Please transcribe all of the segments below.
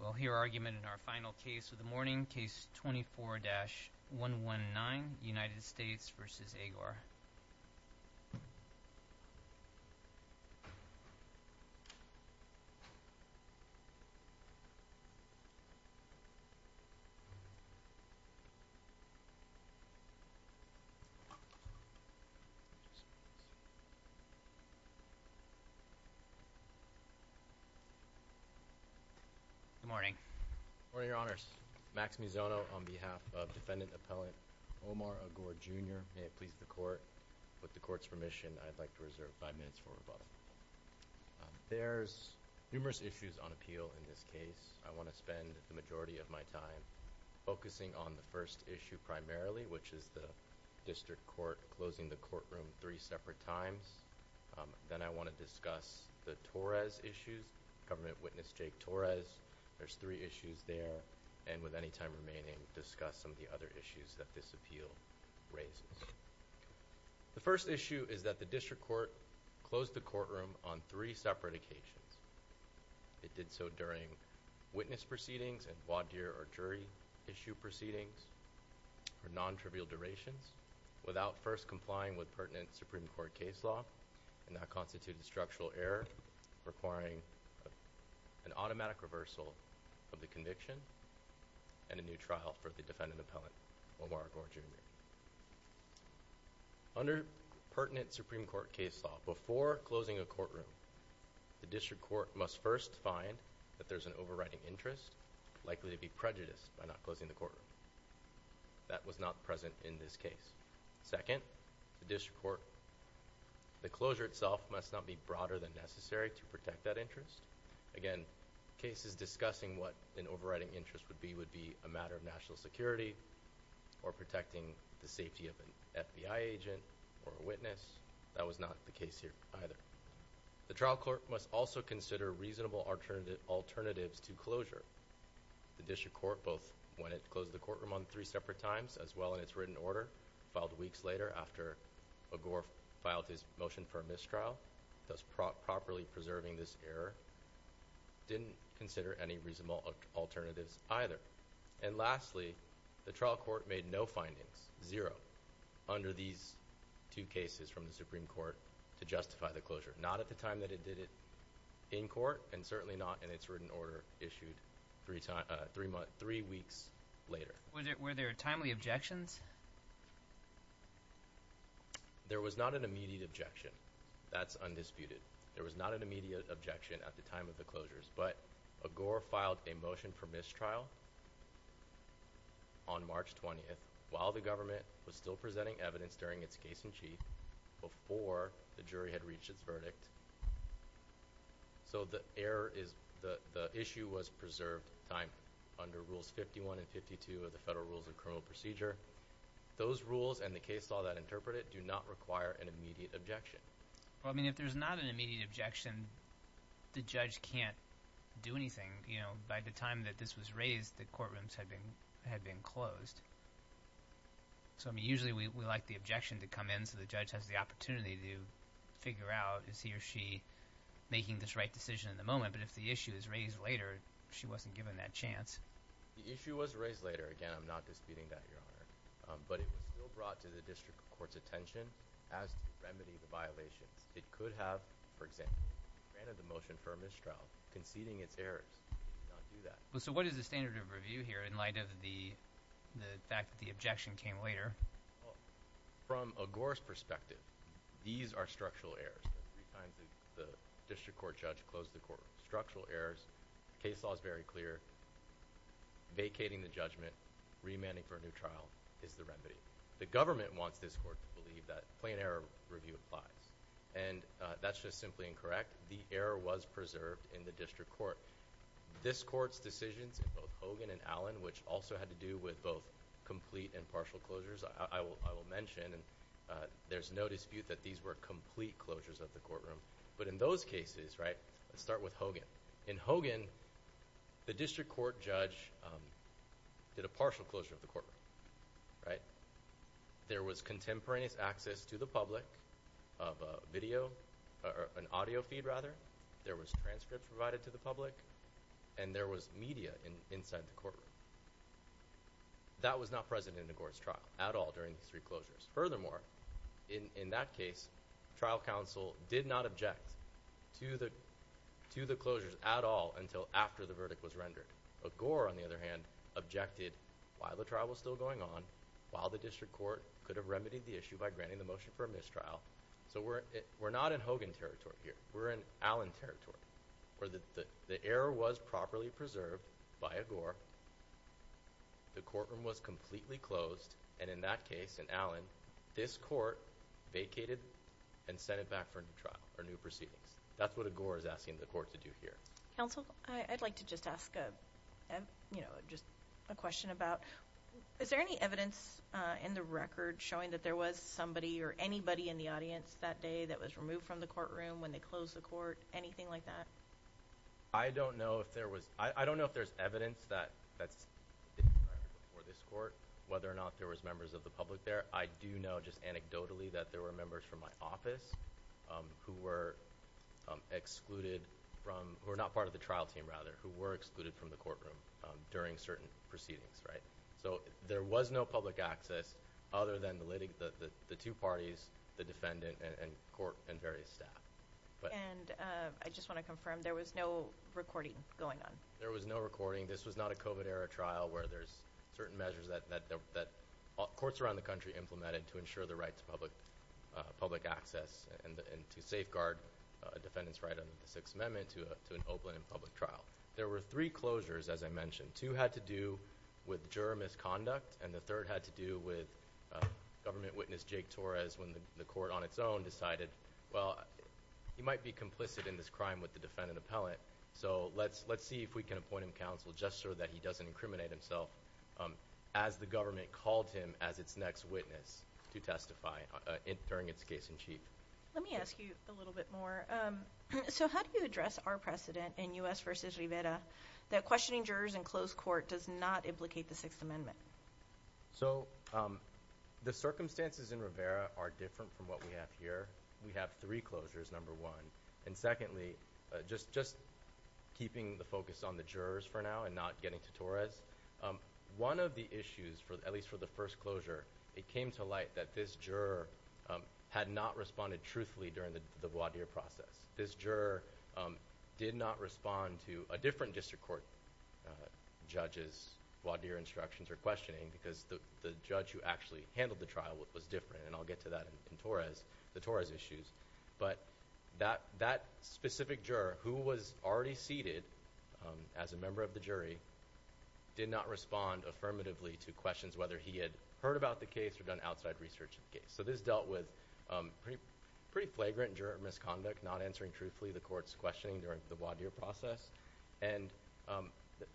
Well, here our argument in our final case of the morning, Case 24-119, United States v. Agor Good morning, your honors, Max Mizzono, on behalf of Defendant Appellant Omar Agor, Jr., may it please the Court, with the Court's permission, I'd like to reserve five minutes for rebuttal. There's numerous issues on appeal in this case. I want to spend the majority of my time focusing on the first issue primarily, which is the District Court closing the courtroom three separate times. Then I want to discuss the Torres issues, Government Witness Jake Torres, there's three remaining, discuss some of the other issues that this appeal raises. The first issue is that the District Court closed the courtroom on three separate occasions. It did so during witness proceedings and voir dire or jury issue proceedings for non-trivial durations without first complying with pertinent Supreme Court case law, and that constituted a new trial for the Defendant Appellant Omar Agor, Jr. Under pertinent Supreme Court case law, before closing a courtroom, the District Court must first find that there's an overriding interest likely to be prejudiced by not closing the That was not present in this case. Second, the District Court, the closure itself must not be broader than necessary to protect that interest. Again, cases discussing what an overriding interest would be, would be a matter of national security or protecting the safety of an FBI agent or a witness. That was not the case here either. The trial court must also consider reasonable alternatives to closure. The District Court, both when it closed the courtroom on three separate times, as well in its written order, filed weeks later after Agor filed his motion for a mistrial, thus properly preserving this error, didn't consider any reasonable alternatives either. Lastly, the trial court made no findings, zero, under these two cases from the Supreme Court to justify the closure. Not at the time that it did it in court, and certainly not in its written order issued three weeks later. Were there timely objections? There was not an immediate objection. That's undisputed. There was not an immediate objection at the time of the closures, but Agor filed a motion for mistrial on March 20th, while the government was still presenting evidence during its case in chief, before the jury had reached its verdict, so the issue was preserved under Rules 51 and 52 of the Federal Rules of Criminal Procedure. Those rules and the case law that interpret it do not require an immediate objection. Well, I mean, if there's not an immediate objection, the judge can't do anything. You know, by the time that this was raised, the courtrooms had been closed. So I mean, usually we like the objection to come in so the judge has the opportunity to figure out, is he or she making this right decision in the moment, but if the issue is raised later, she wasn't given that chance. The issue was raised later. Again, I'm not disputing that, Your Honor. But it was still brought to the district court's attention as to remedy the violations. It could have, for example, granted the motion for a mistrial, conceding its errors. It could not do that. So what is the standard of review here in light of the fact that the objection came later? Well, from Agor's perspective, these are structural errors. Three times the district court judge closed the court. Structural errors. Case law is very clear. Vacating the judgment, remanding for a new trial is the remedy. The government wants this court to believe that plain error review applies. And that's just simply incorrect. The error was preserved in the district court. This court's decisions, both Hogan and Allen, which also had to do with both complete and partial closures, I will mention, and there's no dispute that these were complete closures of the courtroom. But in those cases, right, let's start with Hogan. In Hogan, the district court judge did a partial closure of the courtroom, right? There was contemporaneous access to the public of a video, or an audio feed rather. There was transcripts provided to the public. And there was media inside the courtroom. That was not present in Agor's trial at all during these three closures. Furthermore, in that case, trial counsel did not object to the closures at all until after the verdict was rendered. Agor, on the other hand, objected while the trial was still going on, while the district court could have remedied the issue by granting the motion for a mistrial. So we're not in Hogan territory here. We're in Allen territory. Where the error was properly preserved by Agor, the courtroom was completely closed, and in that case, in Allen, this court vacated and sent it back for a new trial, or new proceedings. That's what Agor is asking the court to do here. Counsel, I'd like to just ask a, you know, just a question about, is there any evidence in the record showing that there was somebody or anybody in the audience that day that was removed from the courtroom when they closed the court? Anything like that? I don't know if there was, I don't know if there's evidence that, that's before this that there was members of the public there. I do know just anecdotally that there were members from my office who were excluded from, who were not part of the trial team, rather, who were excluded from the courtroom during certain proceedings, right? So there was no public access other than the two parties, the defendant and various staff. And I just want to confirm, there was no recording going on? There was no recording. This was not a COVID-era trial where there's certain measures that courts around the country implemented to ensure the right to public access and to safeguard a defendant's right under the Sixth Amendment to an open and public trial. There were three closures, as I mentioned. Two had to do with juror misconduct, and the third had to do with government witness Jake Torres when the court on its own decided, well, he might be complicit in this crime with the defendant appellant. So let's see if we can appoint him counsel just so that he doesn't incriminate himself as the government called him as its next witness to testify during its case-in-chief. Let me ask you a little bit more. So how do you address our precedent in U.S. versus Rivera that questioning jurors in closed court does not implicate the Sixth Amendment? So the circumstances in Rivera are different from what we have here. We have three closures, number one. And secondly, just keeping the focus on the jurors for now and not getting to Torres, one of the issues, at least for the first closure, it came to light that this juror had not responded truthfully during the voir dire process. This juror did not respond to a different district court judge's voir dire instructions or questioning because the judge who actually handled the trial was different, and I'll get to that in Torres, the Torres issues. But that specific juror, who was already seated as a member of the jury, did not respond affirmatively to questions whether he had heard about the case or done outside research of the case. So this dealt with pretty flagrant juror misconduct, not answering truthfully the court's questioning during the voir dire process. And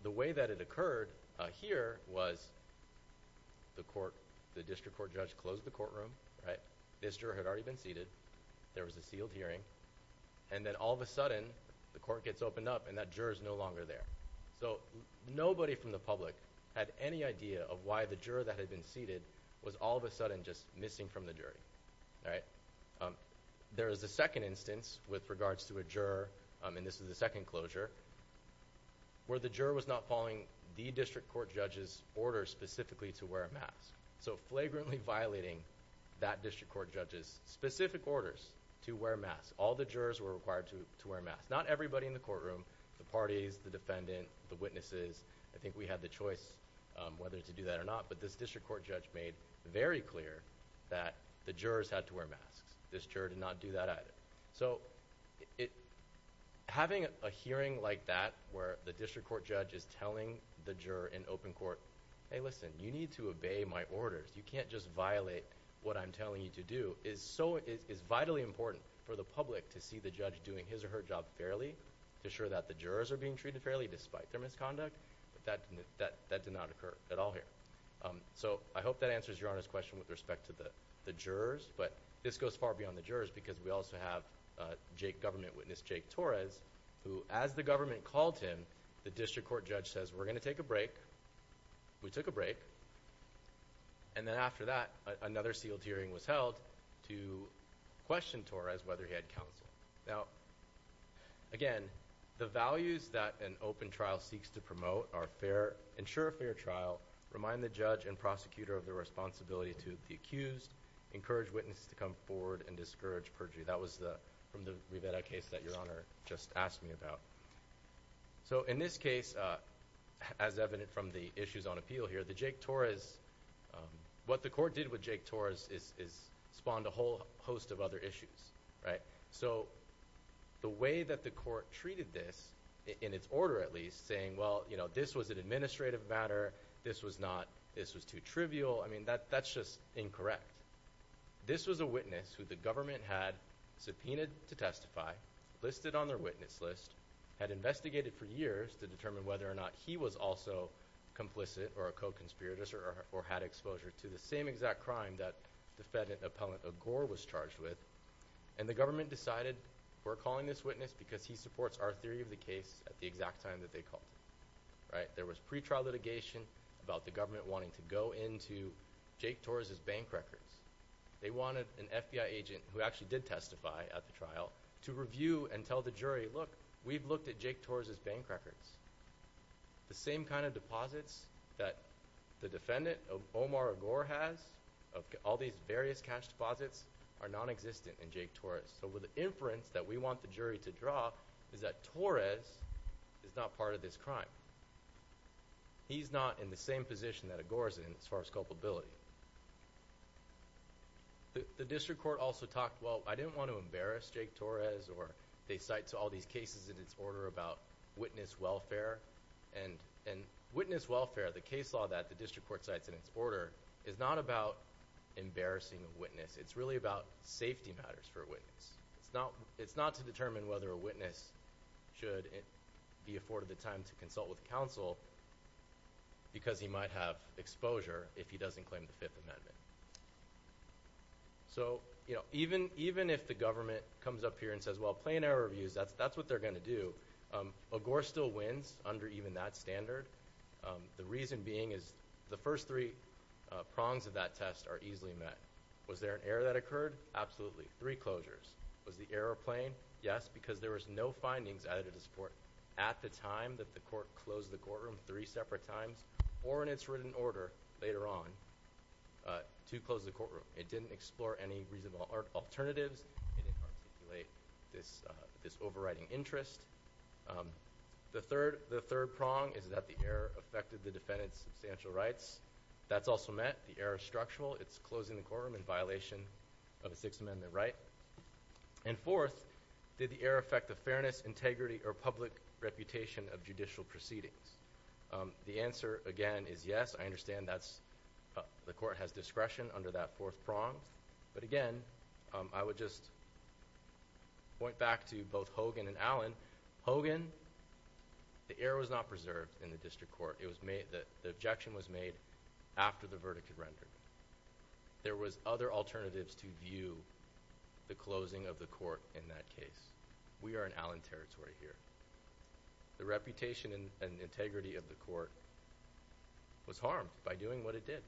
the way that it occurred here was the district court judge closed the courtroom, this juror had already been seated, there was a sealed hearing, and then all of a sudden the court gets opened up and that juror is no longer there. So nobody from the public had any idea of why the juror that had been seated was all of a sudden just missing from the jury. There is a second instance with regards to a juror, and this is the second closure, where the juror was not following the district court judge's order specifically to wear a mask. So flagrantly violating that district court judge's specific orders to wear a mask. All the jurors were required to wear a mask. Not everybody in the courtroom, the parties, the defendant, the witnesses, I think we had the choice whether to do that or not, but this district court judge made very clear that the jurors had to wear masks. This juror did not do that either. So having a hearing like that where the district court judge is telling the juror in open court, hey listen, you need to obey my orders, you can't just violate what I'm telling you to do, is vitally important for the public to see the judge doing his or her job fairly, to ensure that the jurors are being treated fairly despite their misconduct, but that did not occur at all here. So I hope that answers Your Honor's question with respect to the jurors, but this goes far beyond the jurors because we also have government witness Jake Torres, who as the We took a break, and then after that, another sealed hearing was held to question Torres whether he had counsel. Now, again, the values that an open trial seeks to promote are ensure a fair trial, remind the judge and prosecutor of their responsibility to the accused, encourage witnesses to come forward, and discourage perjury. That was from the Rivera case that Your Honor just asked me about. So in this case, as evident from the issues on appeal here, the Jake Torres, what the court did with Jake Torres is spawned a whole host of other issues, right? So the way that the court treated this, in its order at least, saying well, you know, this was an administrative matter, this was not, this was too trivial, I mean, that's just incorrect. This was a witness who the government had subpoenaed to testify, listed on their witness list, had investigated for years to determine whether or not he was also complicit or a co-conspirator or had exposure to the same exact crime that defendant appellant Agour was charged with, and the government decided we're calling this witness because he supports our theory of the case at the exact time that they called it, right? There was pretrial litigation about the government wanting to go into Jake Torres' bank records. They wanted an FBI agent who actually did testify at the trial to review and tell the jury, look, we've looked at Jake Torres' bank records. The same kind of deposits that the defendant, Omar Agour, has, all these various cash deposits, are nonexistent in Jake Torres. So the inference that we want the jury to draw is that Torres is not part of this crime. He's not in the same position that Agour is in as far as culpability. The district court also talked, well, I didn't want to embarrass Jake Torres, or they cite to all these cases in its order about witness welfare, and witness welfare, the case law that the district court cites in its order, is not about embarrassing a witness. It's really about safety matters for a witness. It's not to determine whether a witness should be afforded the time to consult with counsel because he might have exposure if he doesn't claim the Fifth Amendment. So, you know, even if the government comes up here and says, well, plain error reviews, that's what they're going to do, Agour still wins under even that standard, the reason being is the first three prongs of that test are easily met. Was there an error that occurred? Absolutely. Three closures. Was the error plain? Yes, because there was no findings added to the report at the time that the court closed the courtroom three separate times, or in its written order later on, to close the courtroom. It didn't explore any reasonable alternatives. It didn't articulate this overriding interest. The third prong is that the error affected the defendant's substantial rights. That's also met. The error is structural. It's closing the courtroom in violation of a Sixth Amendment right. And fourth, did the error affect the fairness, integrity, or public reputation of judicial proceedings? The answer, again, is yes. I understand that the court has discretion under that fourth prong. But again, I would just point back to both Hogan and Allen. Hogan, the error was not preserved in the district court. The objection was made after the verdict had rendered. There was other alternatives to view the closing of the court in that case. We are in Allen territory here. The reputation and integrity of the court was harmed by doing what it did.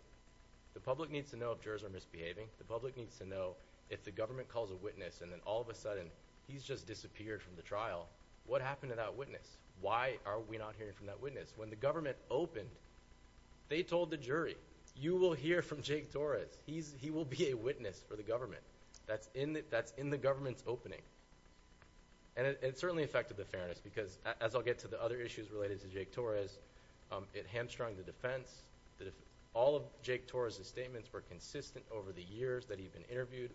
The public needs to know if jurors are misbehaving. The public needs to know if the government calls a witness, and then all of a sudden he's just disappeared from the trial, what happened to that witness? Why are we not hearing from that witness? When the government opened, they told the jury, you will hear from Jake Torres. He will be a witness for the government. That's in the government's opening. It certainly affected the fairness, because as I'll get to the other issues related to Jake Torres, it hamstrung the defense. All of Jake Torres' statements were consistent over the years that he'd been interviewed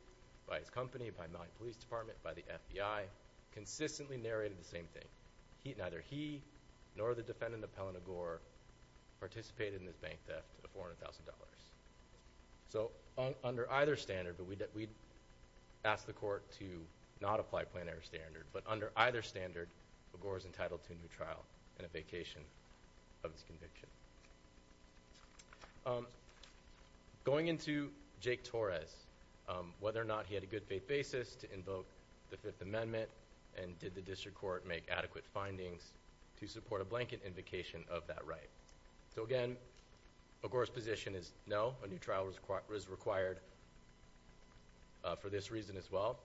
by his company, by Miami Police Department, by the FBI. Consistently narrated the same thing. Neither he, nor the defendant, Appellant Agour, participated in the bank theft of $400,000. Under either standard, but we'd ask the court to not apply plenary standard, but under either standard, Agour is entitled to a new trial and a vacation of his conviction. Going into Jake Torres, whether or not he had a good faith basis to invoke the Fifth Amendment, and did the district court make adequate findings to support a blanket invocation of that right? So again, Agour's position is no, a new trial is required for this reason as well.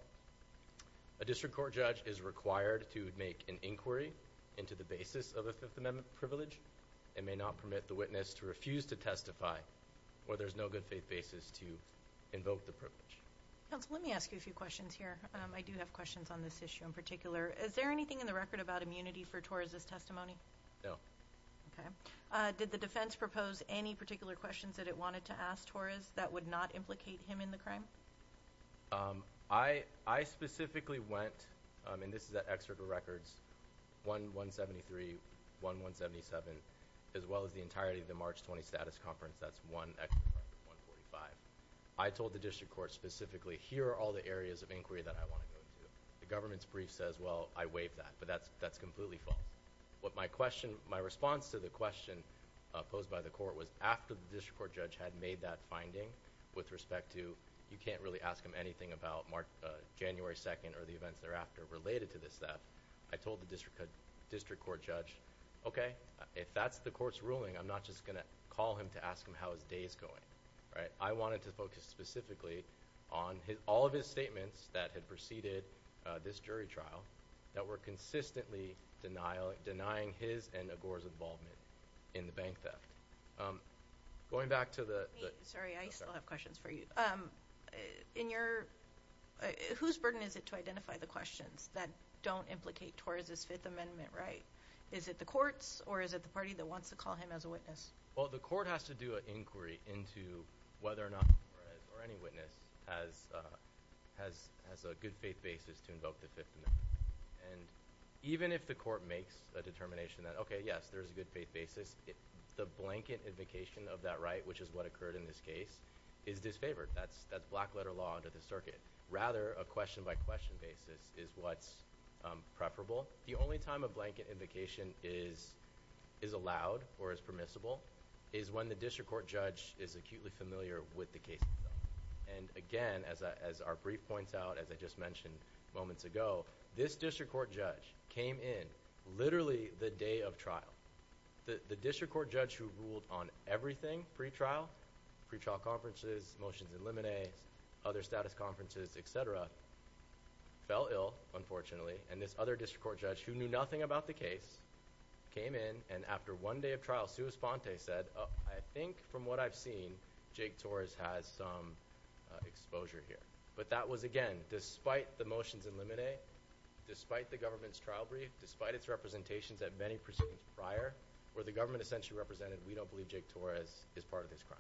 A district court judge is required to make an inquiry into the basis of a Fifth Amendment privilege, and may not permit the witness to refuse to testify, or there's no good faith basis to invoke the privilege. Counsel, let me ask you a few questions here. I do have questions on this issue in particular. Is there anything in the record about immunity for Torres' testimony? No. Okay. Did the defense propose any particular questions that it wanted to ask Torres that would not implicate him in the crime? I specifically went, and this is an excerpt of records, 1-173, 1-177, as well as the entirety of the March 20 Status Conference, that's one excerpt of record, 145. I told the district court specifically, here are all the areas of inquiry that I want to go through. The government's brief says, well, I waived that, but that's completely false. My response to the question posed by the court was, after the district court judge had made that finding with respect to, you can't really ask him anything about January 2nd or the events thereafter related to this theft, I told the district court judge, okay, if that's the court's ruling, I'm not just going to call him to ask him how his day is going. I wanted to focus specifically on all of his statements that had preceded this jury trial that were consistently denying his and Agor's involvement in the bank theft. Going back to the... Sorry, I still have questions for you. Whose burden is it to identify the questions that don't implicate Torres's Fifth Amendment right? Is it the court's, or is it the party that wants to call him as a witness? Well, the court has to do an inquiry into whether or not Torres, or any witness, has a good faith basis to invoke the Fifth Amendment. And even if the court makes a determination that, okay, yes, there's a good faith basis, the blanket invocation of that right, which is what occurred in this case, is disfavored. That's black-letter law under the circuit. Rather, a question-by-question basis is what's preferable. The only time a blanket invocation is allowed or is permissible is when the district court judge is acutely familiar with the case itself. And again, as our brief points out, as I just mentioned moments ago, this district court judge came in literally the day of trial. The district court judge who ruled on everything pre-trial, pre-trial conferences, motions in limine, other status conferences, etc., fell ill, unfortunately. And this other district court judge, who knew nothing about the case, came in, and after one day of trial, sua sponte said, I think from what I've seen, Jake Torres has some exposure here. But that was, again, despite the motions in limine, despite the government's trial brief, despite its representations at many proceedings prior, where the government essentially represented, we don't believe Jake Torres is part of this crime.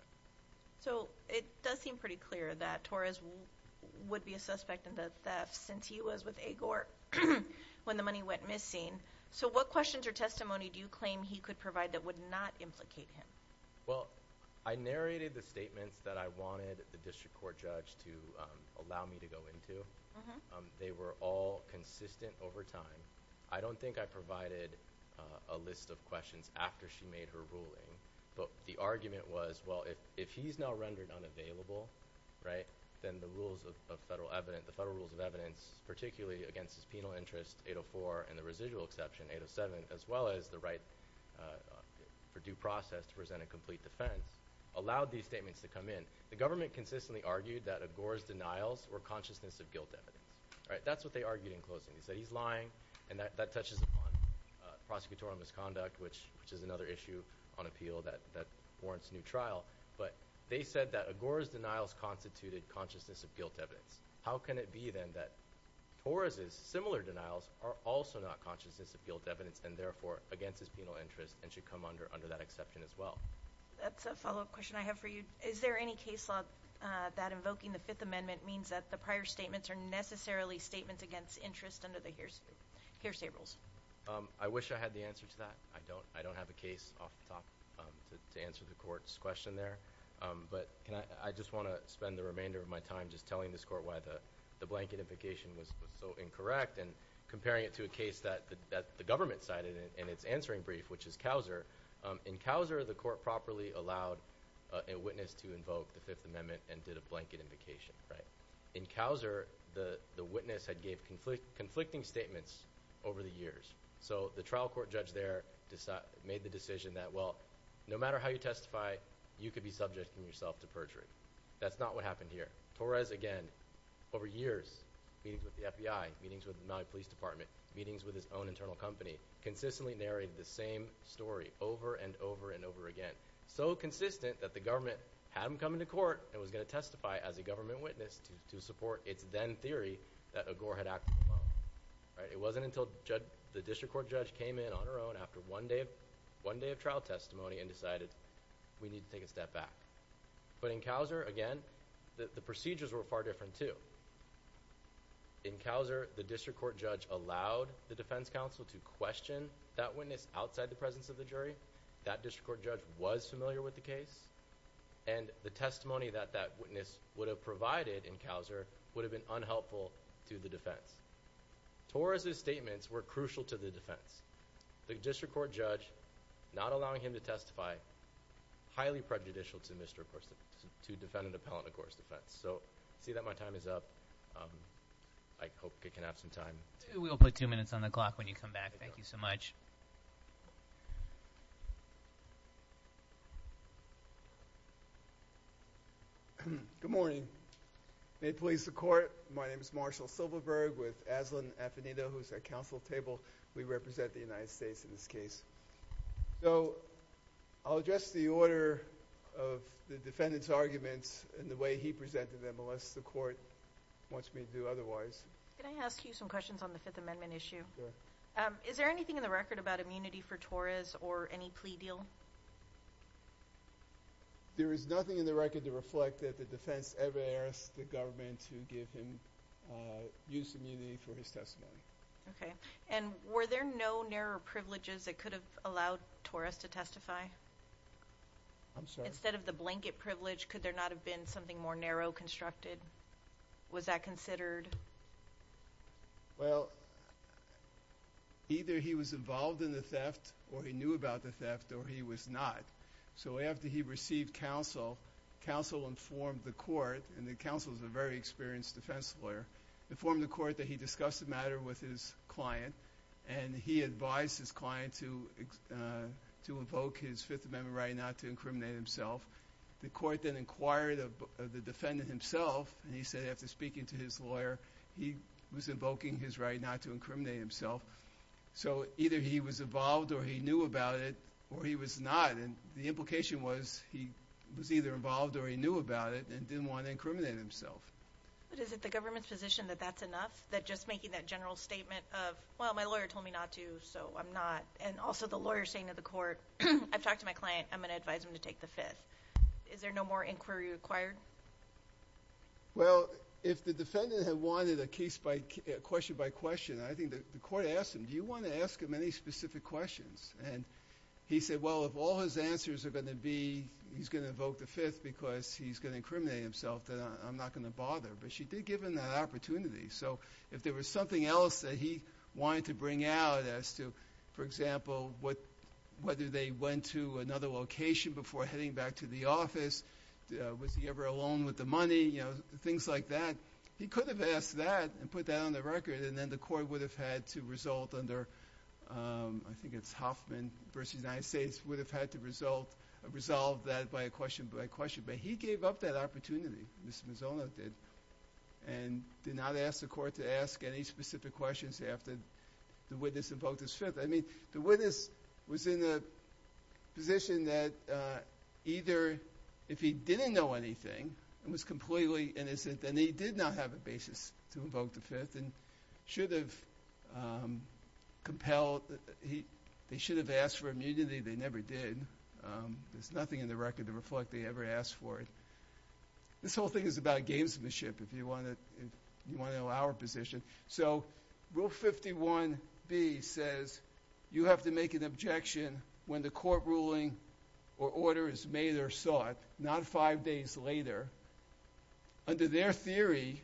So, it does seem pretty clear that Torres would be a suspect in the theft since he was with Agor when the money went missing. So, what questions or testimony do you claim he could provide that would not implicate him? Well, I narrated the statements that I wanted the district court judge to allow me to go into. They were all consistent over time. I don't think I provided a list of questions after she made her ruling. But the argument was, well, if he's now rendered unavailable, right, then the rules of federal evidence, the federal rules of evidence, particularly against his penal interest, 804, and the residual exception, 807, as well as the right for due process to present a complete defense, allowed these statements to come in. The government consistently argued that Agor's denials were consciousness of guilt evidence. That's what they argued in closing. They said he's lying, and that touches upon prosecutorial misconduct, which is another issue on appeal that warrants new trial. But they said that Agor's denials constituted consciousness of guilt evidence. How can it be, then, that Torres's similar denials are also not consciousness of guilt evidence, and therefore, against his penal interest, and should come under that exception as well? That's a follow-up question I have for you. Is there any case law that invoking the Fifth Amendment means that the prior statements are necessarily statements against interest under the hearsay rules? I wish I had the answer to that. I don't have a case off the top to answer the court's question there. But I just want to spend the remainder of my time just telling this court why the blanket invocation was so incorrect, and comparing it to a case that the government cited in its answering brief, which is Couser. In Couser, the court properly allowed a witness to invoke the Fifth Amendment and did a blanket invocation. In Couser, the witness had gave conflicting statements over the years. So the trial court judge there made the decision that, well, no matter how you testify, you could be subject yourself to perjury. That's not what happened here. Torres, again, over years, meetings with the FBI, meetings with the Maui Police Department, meetings with his own internal company, consistently narrated the same story over and over and over again. So consistent that the government had him come into court and was going to testify as a government witness to support its then-theory that Agor had acted alone. It wasn't until the district court judge came in on her own after one day of trial testimony and decided, we need to take a step back. But in Couser, again, the procedures were far different, too. In Couser, the district court judge allowed the defense counsel to question that witness outside the presence of the jury. That district court judge was familiar with the case. And the testimony that that witness would have provided in Couser would have been unhelpful to the defense. Torres' statements were crucial to the defense. The district court judge not allowing him to testify, highly prejudicial to Mr. Agor's defense, to defendant appellant Agor's defense. So I see that my time is up. I hope I can have some time. We will put two minutes on the clock when you come back. Thank you so much. Good morning. May it please the court, my name is Marshall Silverberg with Aslan Affinito, who is at counsel table. We represent the United States in this case. So, I'll address the order of the defendant's arguments and the way he presented them, unless the court wants me to do otherwise. Can I ask you some questions on the Fifth Amendment issue? Sure. Is there anything in the record about immunity for Torres or any plea deal? There is nothing in the record to reflect that the defense ever asked the government to give him use immunity for his testimony. Okay. And were there no narrow privileges that could have allowed Torres to testify? I'm sorry? Instead of the blanket privilege, could there not have been something more narrow, constructed? Was that considered? Well, either he was involved in the theft, or he knew about the theft, or he was not. So after he received counsel, counsel informed the court, and the counsel is a very experienced defense lawyer, informed the court that he discussed the matter with his client, and he advised his client to invoke his Fifth Amendment right not to incriminate himself. The court then inquired of the defendant himself, and he said after speaking to his lawyer, he was invoking his right not to incriminate himself. So either he was involved, or he knew about it, or he was not. And the implication was he was either involved, or he knew about it, and didn't want to incriminate himself. But is it the government's position that that's enough? That just making that general statement of, well, my lawyer told me not to, so I'm not. And also the lawyer saying to the court, I've talked to my client, I'm going to advise him to take the Fifth. Is there no more inquiry required? Well, if the defendant had wanted a case by, question by question, I think the court asked him, do you want to ask him any specific questions? And he said, well, if all his answers are going to be, he's going to invoke the Fifth, because he's going to incriminate himself, then I'm not going to bother. But she did give him that opportunity. So if there was something else that he wanted to bring out, as to, for example, whether they went to another location before heading back to the office, was he ever alone with the money, things like that, he could have asked that, and put that on the record, and then the court would have had to result under, I think it's Hoffman versus the United States, would have had to resolve that by question by question. But he gave up that opportunity, Mr. Mazzone did, and did not ask the court to ask any specific questions after the witness invoked his Fifth. I mean, the witness was in the position that either, if he didn't know anything, and was completely innocent, then he did not have a basis to invoke the Fifth, and should have compelled, they should have asked for immunity, they never did. There's nothing in the record to reflect they ever asked for it. This whole thing is about gamesmanship, if you want to know our position. So Rule 51B says, you have to make an objection when the court ruling or order is made or sought, not five days later. Under their theory,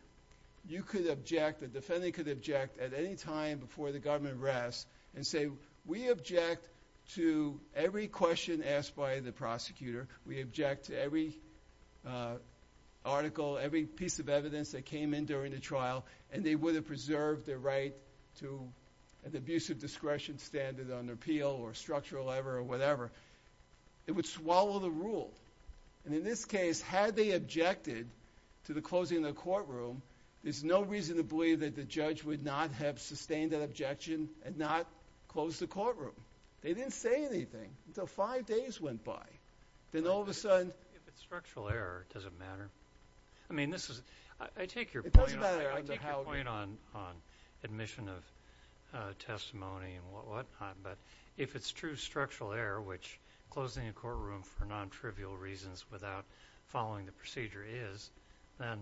you could object, a defendant could object, at any time before the government rests, and say, we object to every question asked by the prosecutor, we object to every article, every piece of evidence that came in during the trial, and they would have preserved their right to an abusive discretion standard on appeal, or structural ever, or whatever. It would swallow the rule. And in this case, had they objected to the closing of the courtroom, there's no reason to believe that the judge would not have made the objection, and not closed the courtroom. They didn't say anything, until five days went by. Then all of a sudden... If it's structural error, does it matter? I mean, this is... I take your point on... I take your point on admission of testimony, and what not, but if it's true structural error, which closing a courtroom for non-trivial reasons without following the procedure is, then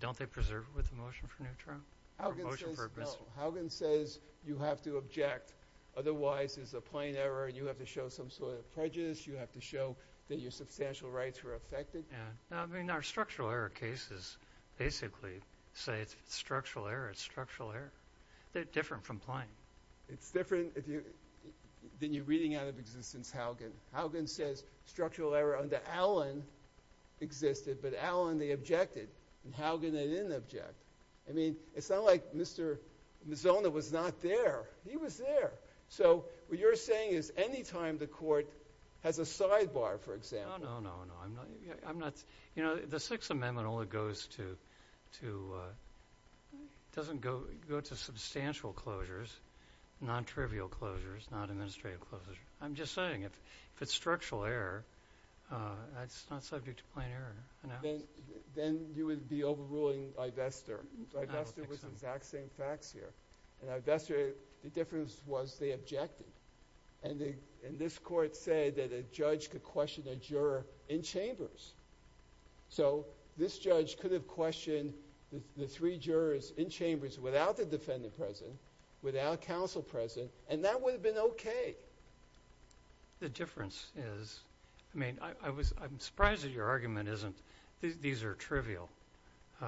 don't they preserve it with the motion for neutral? Haugen says no. Haugen says you have to object. Otherwise, it's a plain error, and you have to show some sort of prejudice. You have to show that your substantial rights were affected. I mean, our structural error cases basically say it's structural error. It's structural error. They're different from plain. It's different if you... Then you're reading out of existence Haugen. Haugen says structural error under Allen existed, but Allen, they objected, and Haugen, they didn't object. I mean, it's not like Mr. Mazzone was not there. He was there. So what you're saying is any time the court has a sidebar, for example... No, no, no, no. I'm not... You know, the Sixth Amendment only goes to... It doesn't go to substantial closures, non-trivial closures, non-administrative closures. I'm just saying, if it's structural error, that's not subject to plain error. Then you would be overruling... By Vester. By Vester, it was the exact same facts here. And by Vester, the difference was they objected. And this court said that a judge could question a juror in chambers. So this judge could have questioned the three jurors in chambers without the defendant present, without counsel present, and that would have been okay. The difference is... I mean, I'm surprised that your argument isn't... These are trivial. The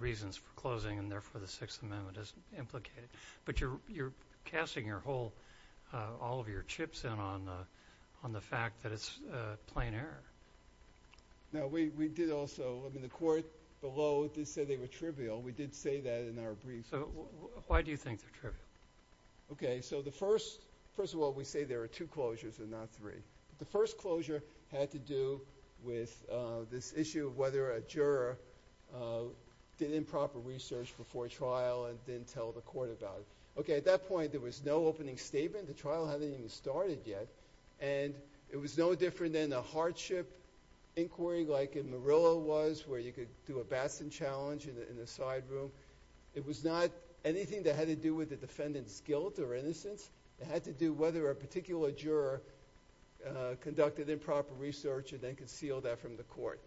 reasons for closing and therefore the Sixth Amendment is implicated. But you're casting your whole... all of your chips in on the fact that it's plain error. No, we did also... I mean, the court below did say they were trivial. We did say that in our brief. So why do you think they're trivial? Okay, so the first... First of all, we say there are two closures and not three. The first closure had to do with this issue of whether a juror did improper research before trial and didn't tell the court about it. Okay, at that point, there was no opening statement. The trial hadn't even started yet. And it was no different than a hardship inquiry like in Murillo was where you could do a Batson challenge in the side room. It was not anything that had to do with the defendant's guilt or innocence. It had to do whether a particular juror conducted improper research and then concealed that from the court.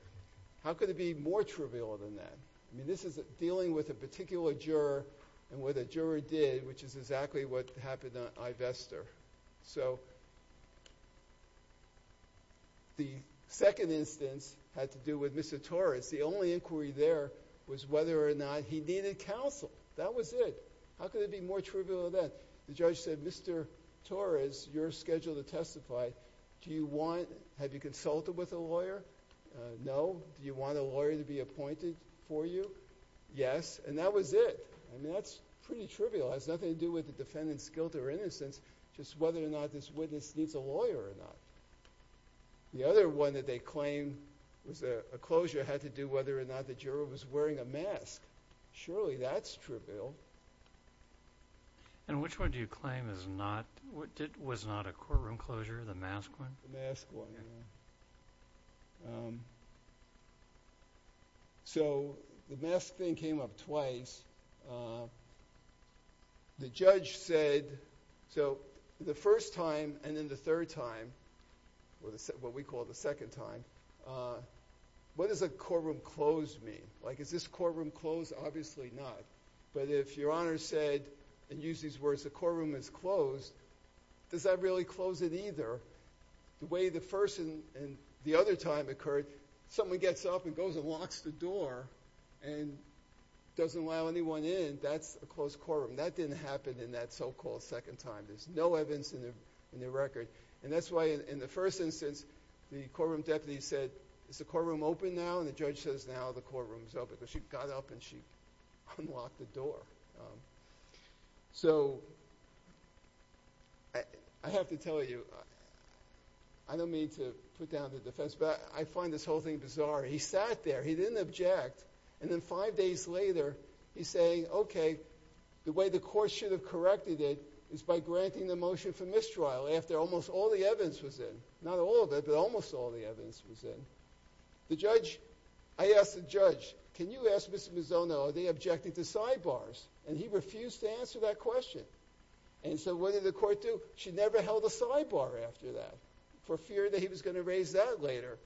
How could it be more trivial than that? I mean, this is dealing with a particular juror and what the juror did, which is exactly what happened on Ivester. So... The second instance had to do with Mr. Torres. The only inquiry there was whether or not he needed counsel. That was it. How could it be more trivial than that? The judge said, Mr. Torres, you're scheduled to testify. Do you want... Have you consulted with a lawyer? No. Do you want a lawyer to be appointed for you? Yes. And that was it. I mean, that's pretty trivial. It has nothing to do with the defendant's guilt or innocence, just whether or not this witness needs a lawyer or not. The other one that they claim was a closure had to do whether or not the juror was wearing a mask. Surely, that's trivial. And which one do you claim was not a courtroom closure? The mask one? The mask one, yeah. So, the mask thing came up twice. The judge said, so, the first time and then the third time, what we call the second time, what does a courtroom close mean? Like, is this courtroom closed? Obviously not. But if Your Honor said and used these words, the courtroom is closed, does that really close it either? The way the first and the second and the other time occurred, someone gets up and goes and locks the door and doesn't allow anyone in, that's a closed courtroom. That didn't happen in that so-called second time. There's no evidence in the record. And that's why in the first instance, the courtroom deputy said, is the courtroom open now? And the judge says, now the courtroom is open. But she got up and she unlocked the door. So, I have to tell you, I don't mean to put you down to defense, but I find this whole thing bizarre. He sat there, he didn't object, and then five days later, he's saying, the way the court should have corrected it is by granting the motion for mistrial after almost all the evidence was in. Not all of it, but almost all the evidence was in. The judge, I asked the judge, can you ask Mr. Mizzone, are they objecting to sidebars? And he refused to answer that question. And so, what did the court do? She never held a sidebar after that for fear that he was going to raise that later,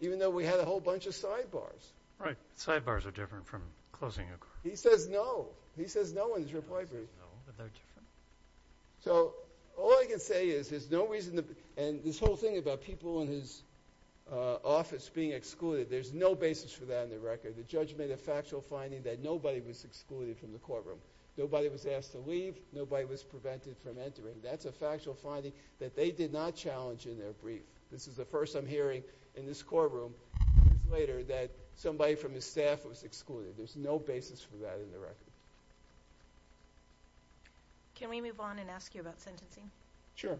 even though we had a whole bunch of sidebars. Right. Sidebars are different from closing a court. He says no. He says no in his reply brief. He says no, but they're different. So, all I can say is, there's no reason to, and this whole thing about people in his office being excluded, there's no basis for that in the record. The judge made a factual finding that nobody was excluded from the courtroom. Nobody was asked to leave, nobody was prevented from entering. That's a factual finding that they did not challenge in their brief. This is the first I'm hearing in this courtroom, that somebody from his staff was excluded. There's no basis for that in the record. Can we move on and ask you about sentencing? Sure.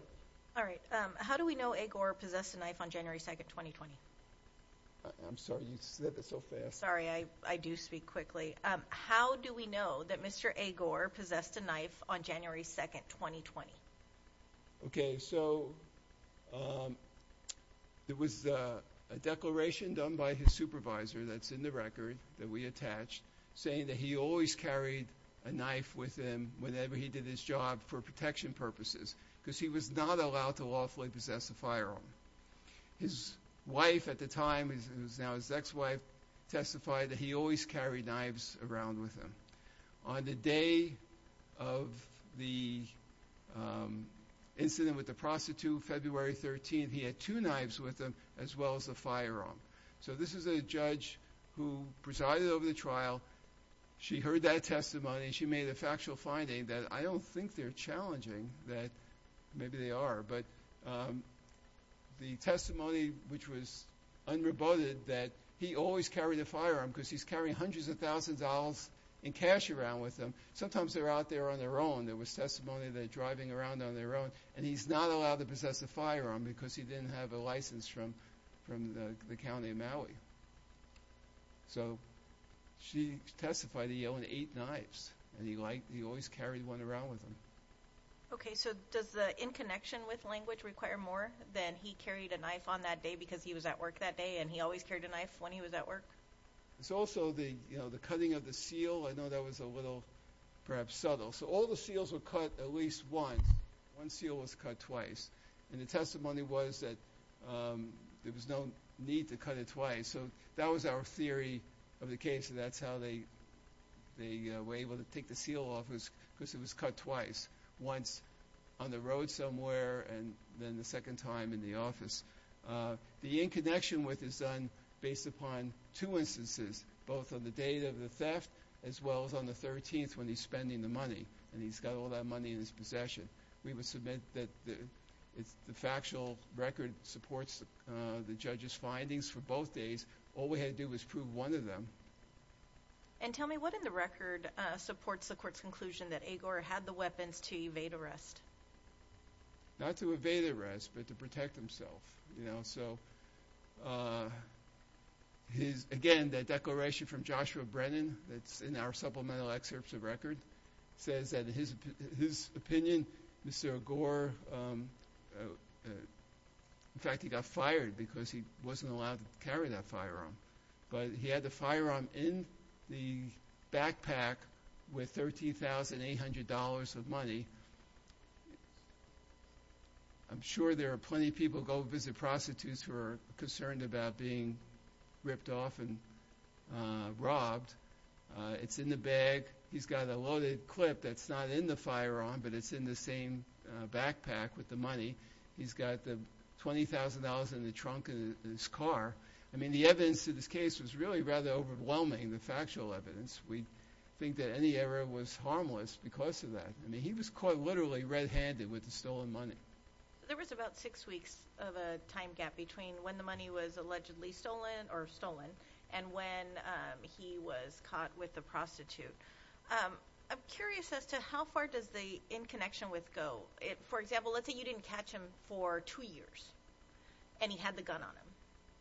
All right. How do we know Agor possessed a knife on January 2nd, 2020? I'm sorry. You said that so fast. Sorry. I do speak quickly. How do we know that Mr. Agor possessed a knife on January 2nd, 2020? Okay. So, there was a declaration done by his supervisor that's in the record that we attached saying that he always carried a knife with him whenever he did his job for protection purposes because he was not allowed to lawfully possess a firearm. His wife, at the time, who's now his ex-wife, testified that he always carried knives around with him. On the day of the incident with the prostitute on February 13th, he had two knives with him as well as a firearm. So, this is a judge who presided over the trial. She heard that testimony. She made a factual finding that I don't think they're challenging that maybe they are. But, the testimony which was unrebutted that he always carried a firearm because he's carrying hundreds of thousands of dollars in cash around with him. Sometimes they're out there on their own. There was testimony that they're driving around on their own and he's not allowed to possess a firearm because he didn't have a license from the county of Maui. So, she testified that he owned eight knives and he always carried one around with him. Okay, so does the in-connection with language require more than he carried a knife on that day because he was at work that day and he always carried a knife when he was at work? It's also the cutting of the seal. I know that was a little perhaps subtle. So, all the seals were cut at least once. One seal was cut twice and the testimony was that there was no need to cut it twice. So, that was our theory of the case and that's how they were able to take the seal off because it was cut twice. Once on the road somewhere and then the second time in the office. The in-connection with is done based upon two instances both on the date of the theft as well as on the 13th when he's spending the money and he's got all that money in his We would submit that the factual record supports the judge's findings for both days. All we had to do was prove one of them. And tell me what in the record supports the court's conclusion that Agor had the weapons to evade arrest? Not to evade arrest but to protect himself. So, again the declaration from Joshua Brennan that's in our supplemental excerpts of record says that his opinion, Mr. Agor, in fact he got fired because he wasn't allowed to carry that firearm but he had the firearm in the backpack with $13,800 of money. I'm sure there are plenty of people who go visit prostitutes who are concerned about being robbed. It's in the bag. He's got a loaded clip that's not in the firearm but it's in the same backpack with the money. He's got the $20,000 in the trunk of his car. I mean the evidence in this case was really rather overwhelming the factual evidence. We think that any error was harmless because of that. I mean he was caught literally red handed with the stolen money. There was about six weeks of a time gap between when the money was allegedly stolen or stolen and when he was caught with the prostitute. I'm curious as to how far does the in connection with go. For example let's say you didn't catch him for two years and he had the gun on him.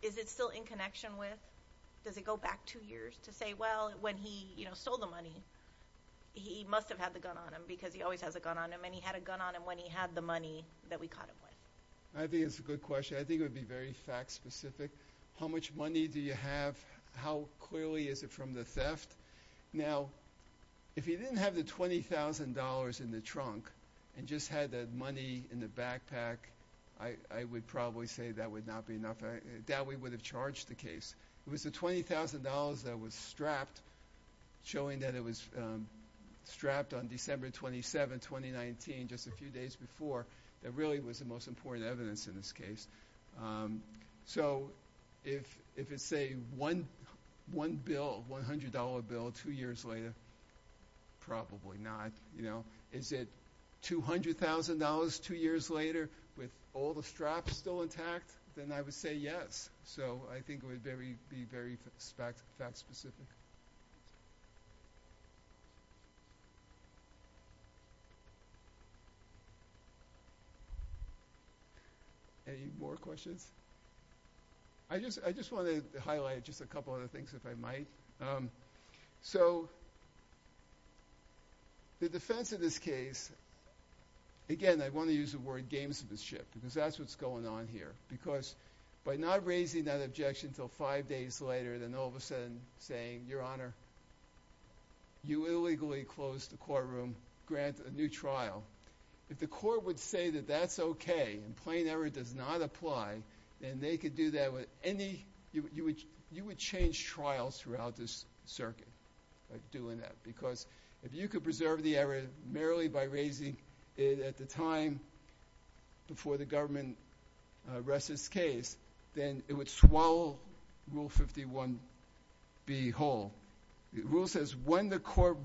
Is it still in connection with does it go back two years to say well when he you know stole the money he must have had the gun on him because he always has a gun on him and he had a gun on him when he had the money that we caught him with. I think it's a good question. I think it would be very fact specific. How much do you would have charged the case. It was the $20,000 that was strapped showing that it was strapped on December 27, 2019 just a few days before that really was the most important evidence in this case. So if it's a one bill $100 bill two years later probably not. Is it $200,000 two years later with all the straps still intact then I would say yes. So I think it would be very fact specific. Any more questions? I just want to highlight just a couple other things if I might. So the defendant in this case again I want to use the word gamesmanship because that's what's going on here because by not raising that objection until five days later then all of saying your honor you illegally closed the grant a new trial. If the court would say that that's okay and plain error does not apply then they could do that with any you would change trials throughout this circuit doing that because if you could preserve the error merely by raising it at the time before the rests its case then it would swallow rule 51B whole. says when the court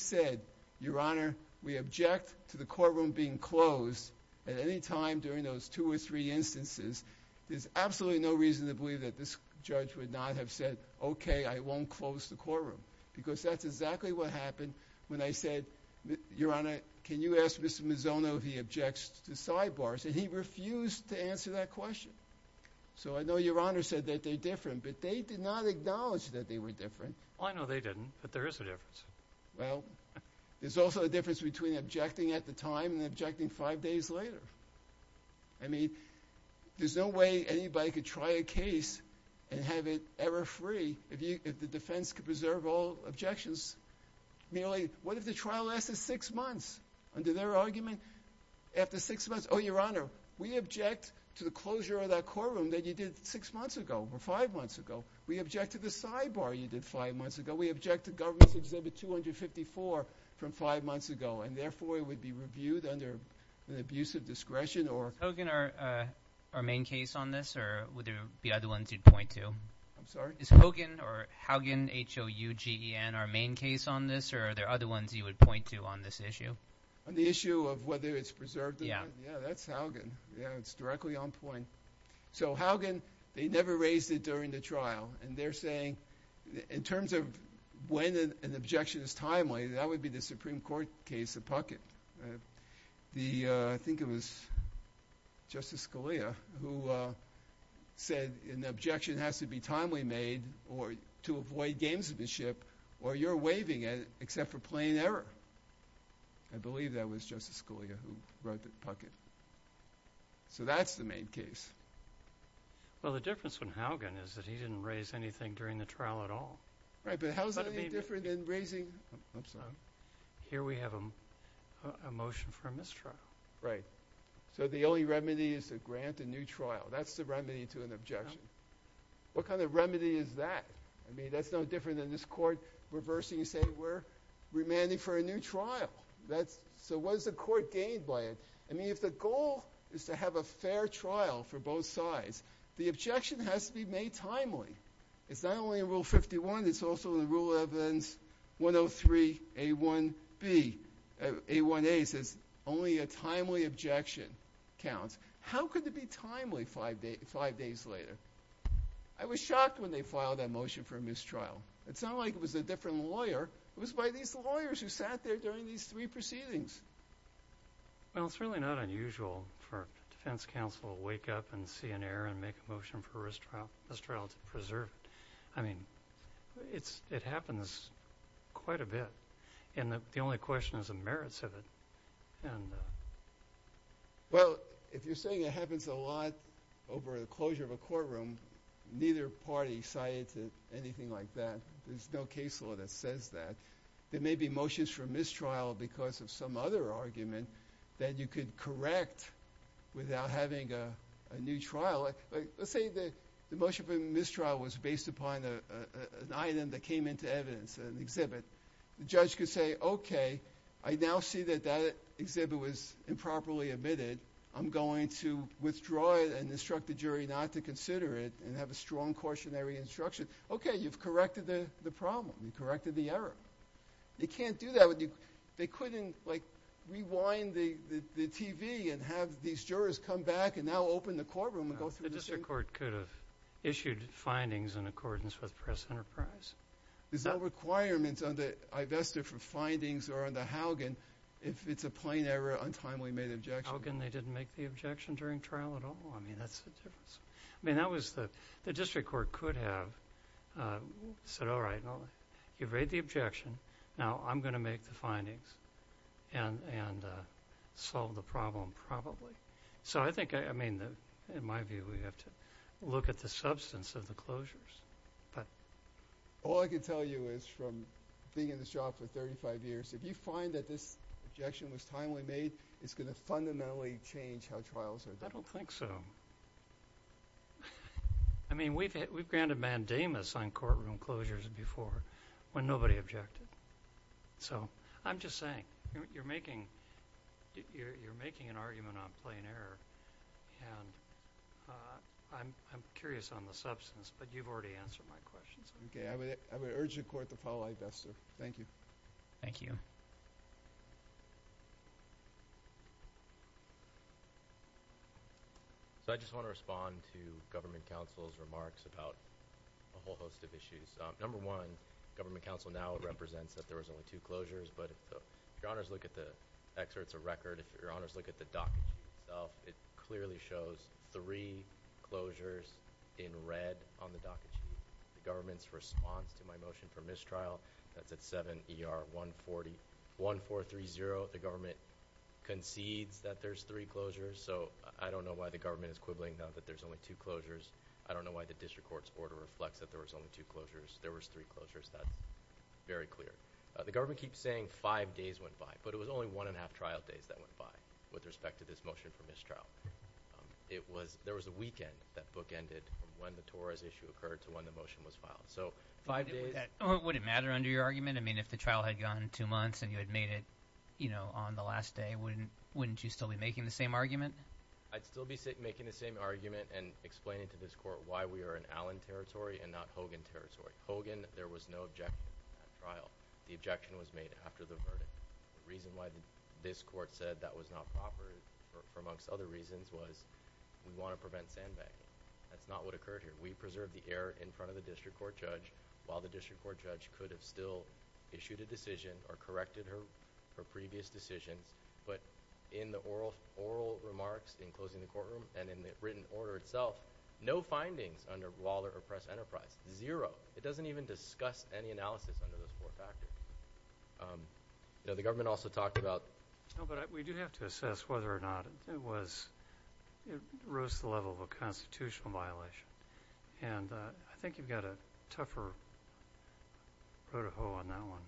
says your honor we object to courtroom being closed at any time during those two or instances there's absolutely no reason to believe that this judge would not have said okay I won't close the because that's exactly what happened when I said your honor can you ask Mr. Mizono if he objects to sidebars and he refused to answer that question so I know your honor said that they're different but they did not acknowledge that they were different. I know they didn't but there is a difference. Well there's also a difference between objecting at the time and objecting five months ago. I object to closing courtrooms that you did six months ago or five months ago. We object to the sidebar you did five months ago. We object to government's exhibit 254 from five months ago and therefore it would be reviewed under an abusive discretion. Is Hogan our main case on this or would there be an to on this issue? On the issue of whether it's preserved? Yeah. Yeah that's Yeah it's directly on point. So Hogan they never raised it during the trial and they're saying in terms of when an objection is timely that would be the Supreme Court case of Puckett. I think it was Justice Scalia who said an objection has to be timely made or to avoid gamesmanship or you're waiving it except for plain error. I believe that was Justice Scalia who wrote Puckett. So that's the main case. Well the difference with Hogan is he didn't raise anything during the trial at all. He raised here we have a motion for a mistrial. Right. So the only remedy is to grant a new trial. That's the remedy to an objection. What kind of remedy is that? I mean that's no different than this court reversing and saying we're demanding for a new trial. So what is the gained by it? If the goal is to have a fair trial for both sides the objection has to be made timely. It's not only in rule 51 it's also in rule 103 A1B A1A says only a timely objection counts. How could it be timely five days later? I was shocked when they filed that motion for a mistrial. It's not like it was a different lawyer. It was by these lawyers who sat there during these three proceedings. Well it's really not unusual for defense counsel to wake up and see an error and make a motion for a mistrial to preserve it. It happens quite a bit and the only question is the merits of it. Well if you're saying it happens a lot over the closure of a neither party cited anything like that. There may be motions for mistrial because of some other reasons. Let's say the motion for mistrial was based upon an item that came into evidence, an exhibit. The judge could say okay, I now see that that exhibit was improperly I'm going to withdraw it and instruct the jury not to consider it and have a strong cautionary instruction. The jury okay, you've corrected the problem, you've corrected the error. They couldn't rewind the TV and have these jurors come back and now open the courtroom and go through the case. The district court could have issued findings in accordance with the press enterprise. There's no requirement under Ivesta for findings or under Haugen if it's a plain error, untimely made objection. Haugen, they didn't make the objection during trial at all. The district court could have said all right, you've read the now I'm going to make the findings and solve the problem probably. In my view, we have to look at the substance of the closures. But all I can tell you is from being in this job for 35 years, if you find that this objection was timely made, it's going to change how trials are done. I don't think so. I mean, we've granted mandamus on courtroom closures before when nobody objected. So I'm just saying you're making an argument on plain error and I'm curious on the other my questions. I would urge the court to follow that. Thank you. Thank you. I just want to respond to government counsel's remarks about a whole host of issues. Number one, government counsel now represents that there was only two closures, but if your honors look at the docket sheet itself, it clearly shows three closures in red on the docket sheet. The government's response to my motion for mistrial, that's at 7ER1430. The government concedes that there's three closures, so I don't know why the government is that there's only two closures. I don't know why the district court's order reflects that there was only two closures. There was three That's very clear. The government keeps saying five days went by, but it was only one and a half trial days that went by with respect to this motion for mistrial. There was a weekend that book ended from when the Torres issue occurred to when the motion was filed. So five days Would it matter under your argument? If the trial had gone two months and you had made it on the last day, wouldn't you still be making the same argument? I would still be making the same argument and explaining to this court why we are in Allen territory and not territory. Hogan, there was no objection to that trial. The objection was made after the The reason why this court said that was not proper for amongst other reasons was we want to sandbagging. That's not what occurred here. We preserved the error in front of the district court judge while the district court judge could have still issued a decision or corrected her previous decisions, but in the oral remarks in closing the courtroom and in the written order itself, no findings under Waller or Press Enterprise. Zero. It doesn't even discuss any analysis under those four factors. You know, the government also talked about No, but we do have to assess whether or not it was, it rose to the level of a constitutional violation, and I think you've got a tougher protocol on that one.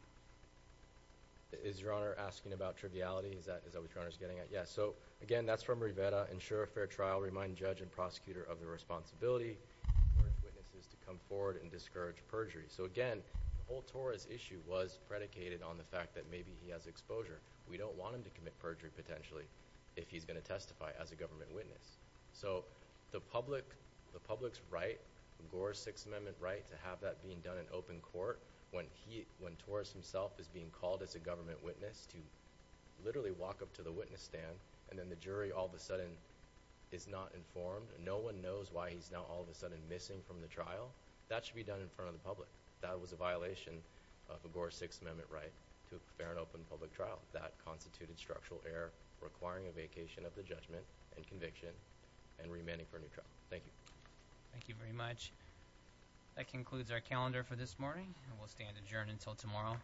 Is Your Honor asking about trivialities? Is that what Your Honor is getting at? Yeah, so again, that's a very simple question that we I think So, again, the issue was predicated on the fact that maybe he has exposure. don't want him to commit a crime informed. No one knows why he's now all of a missing from the trial. That should be done in front of the public. That was a violation of the Gore 6th Amendment right to prepare an open public trial. That constituted structural error requiring a vacation of the judgment and conviction and remanding for a new trial. Thank you. Thank you very much. That concludes our calendar for this morning. We'll stand adjourned until tomorrow.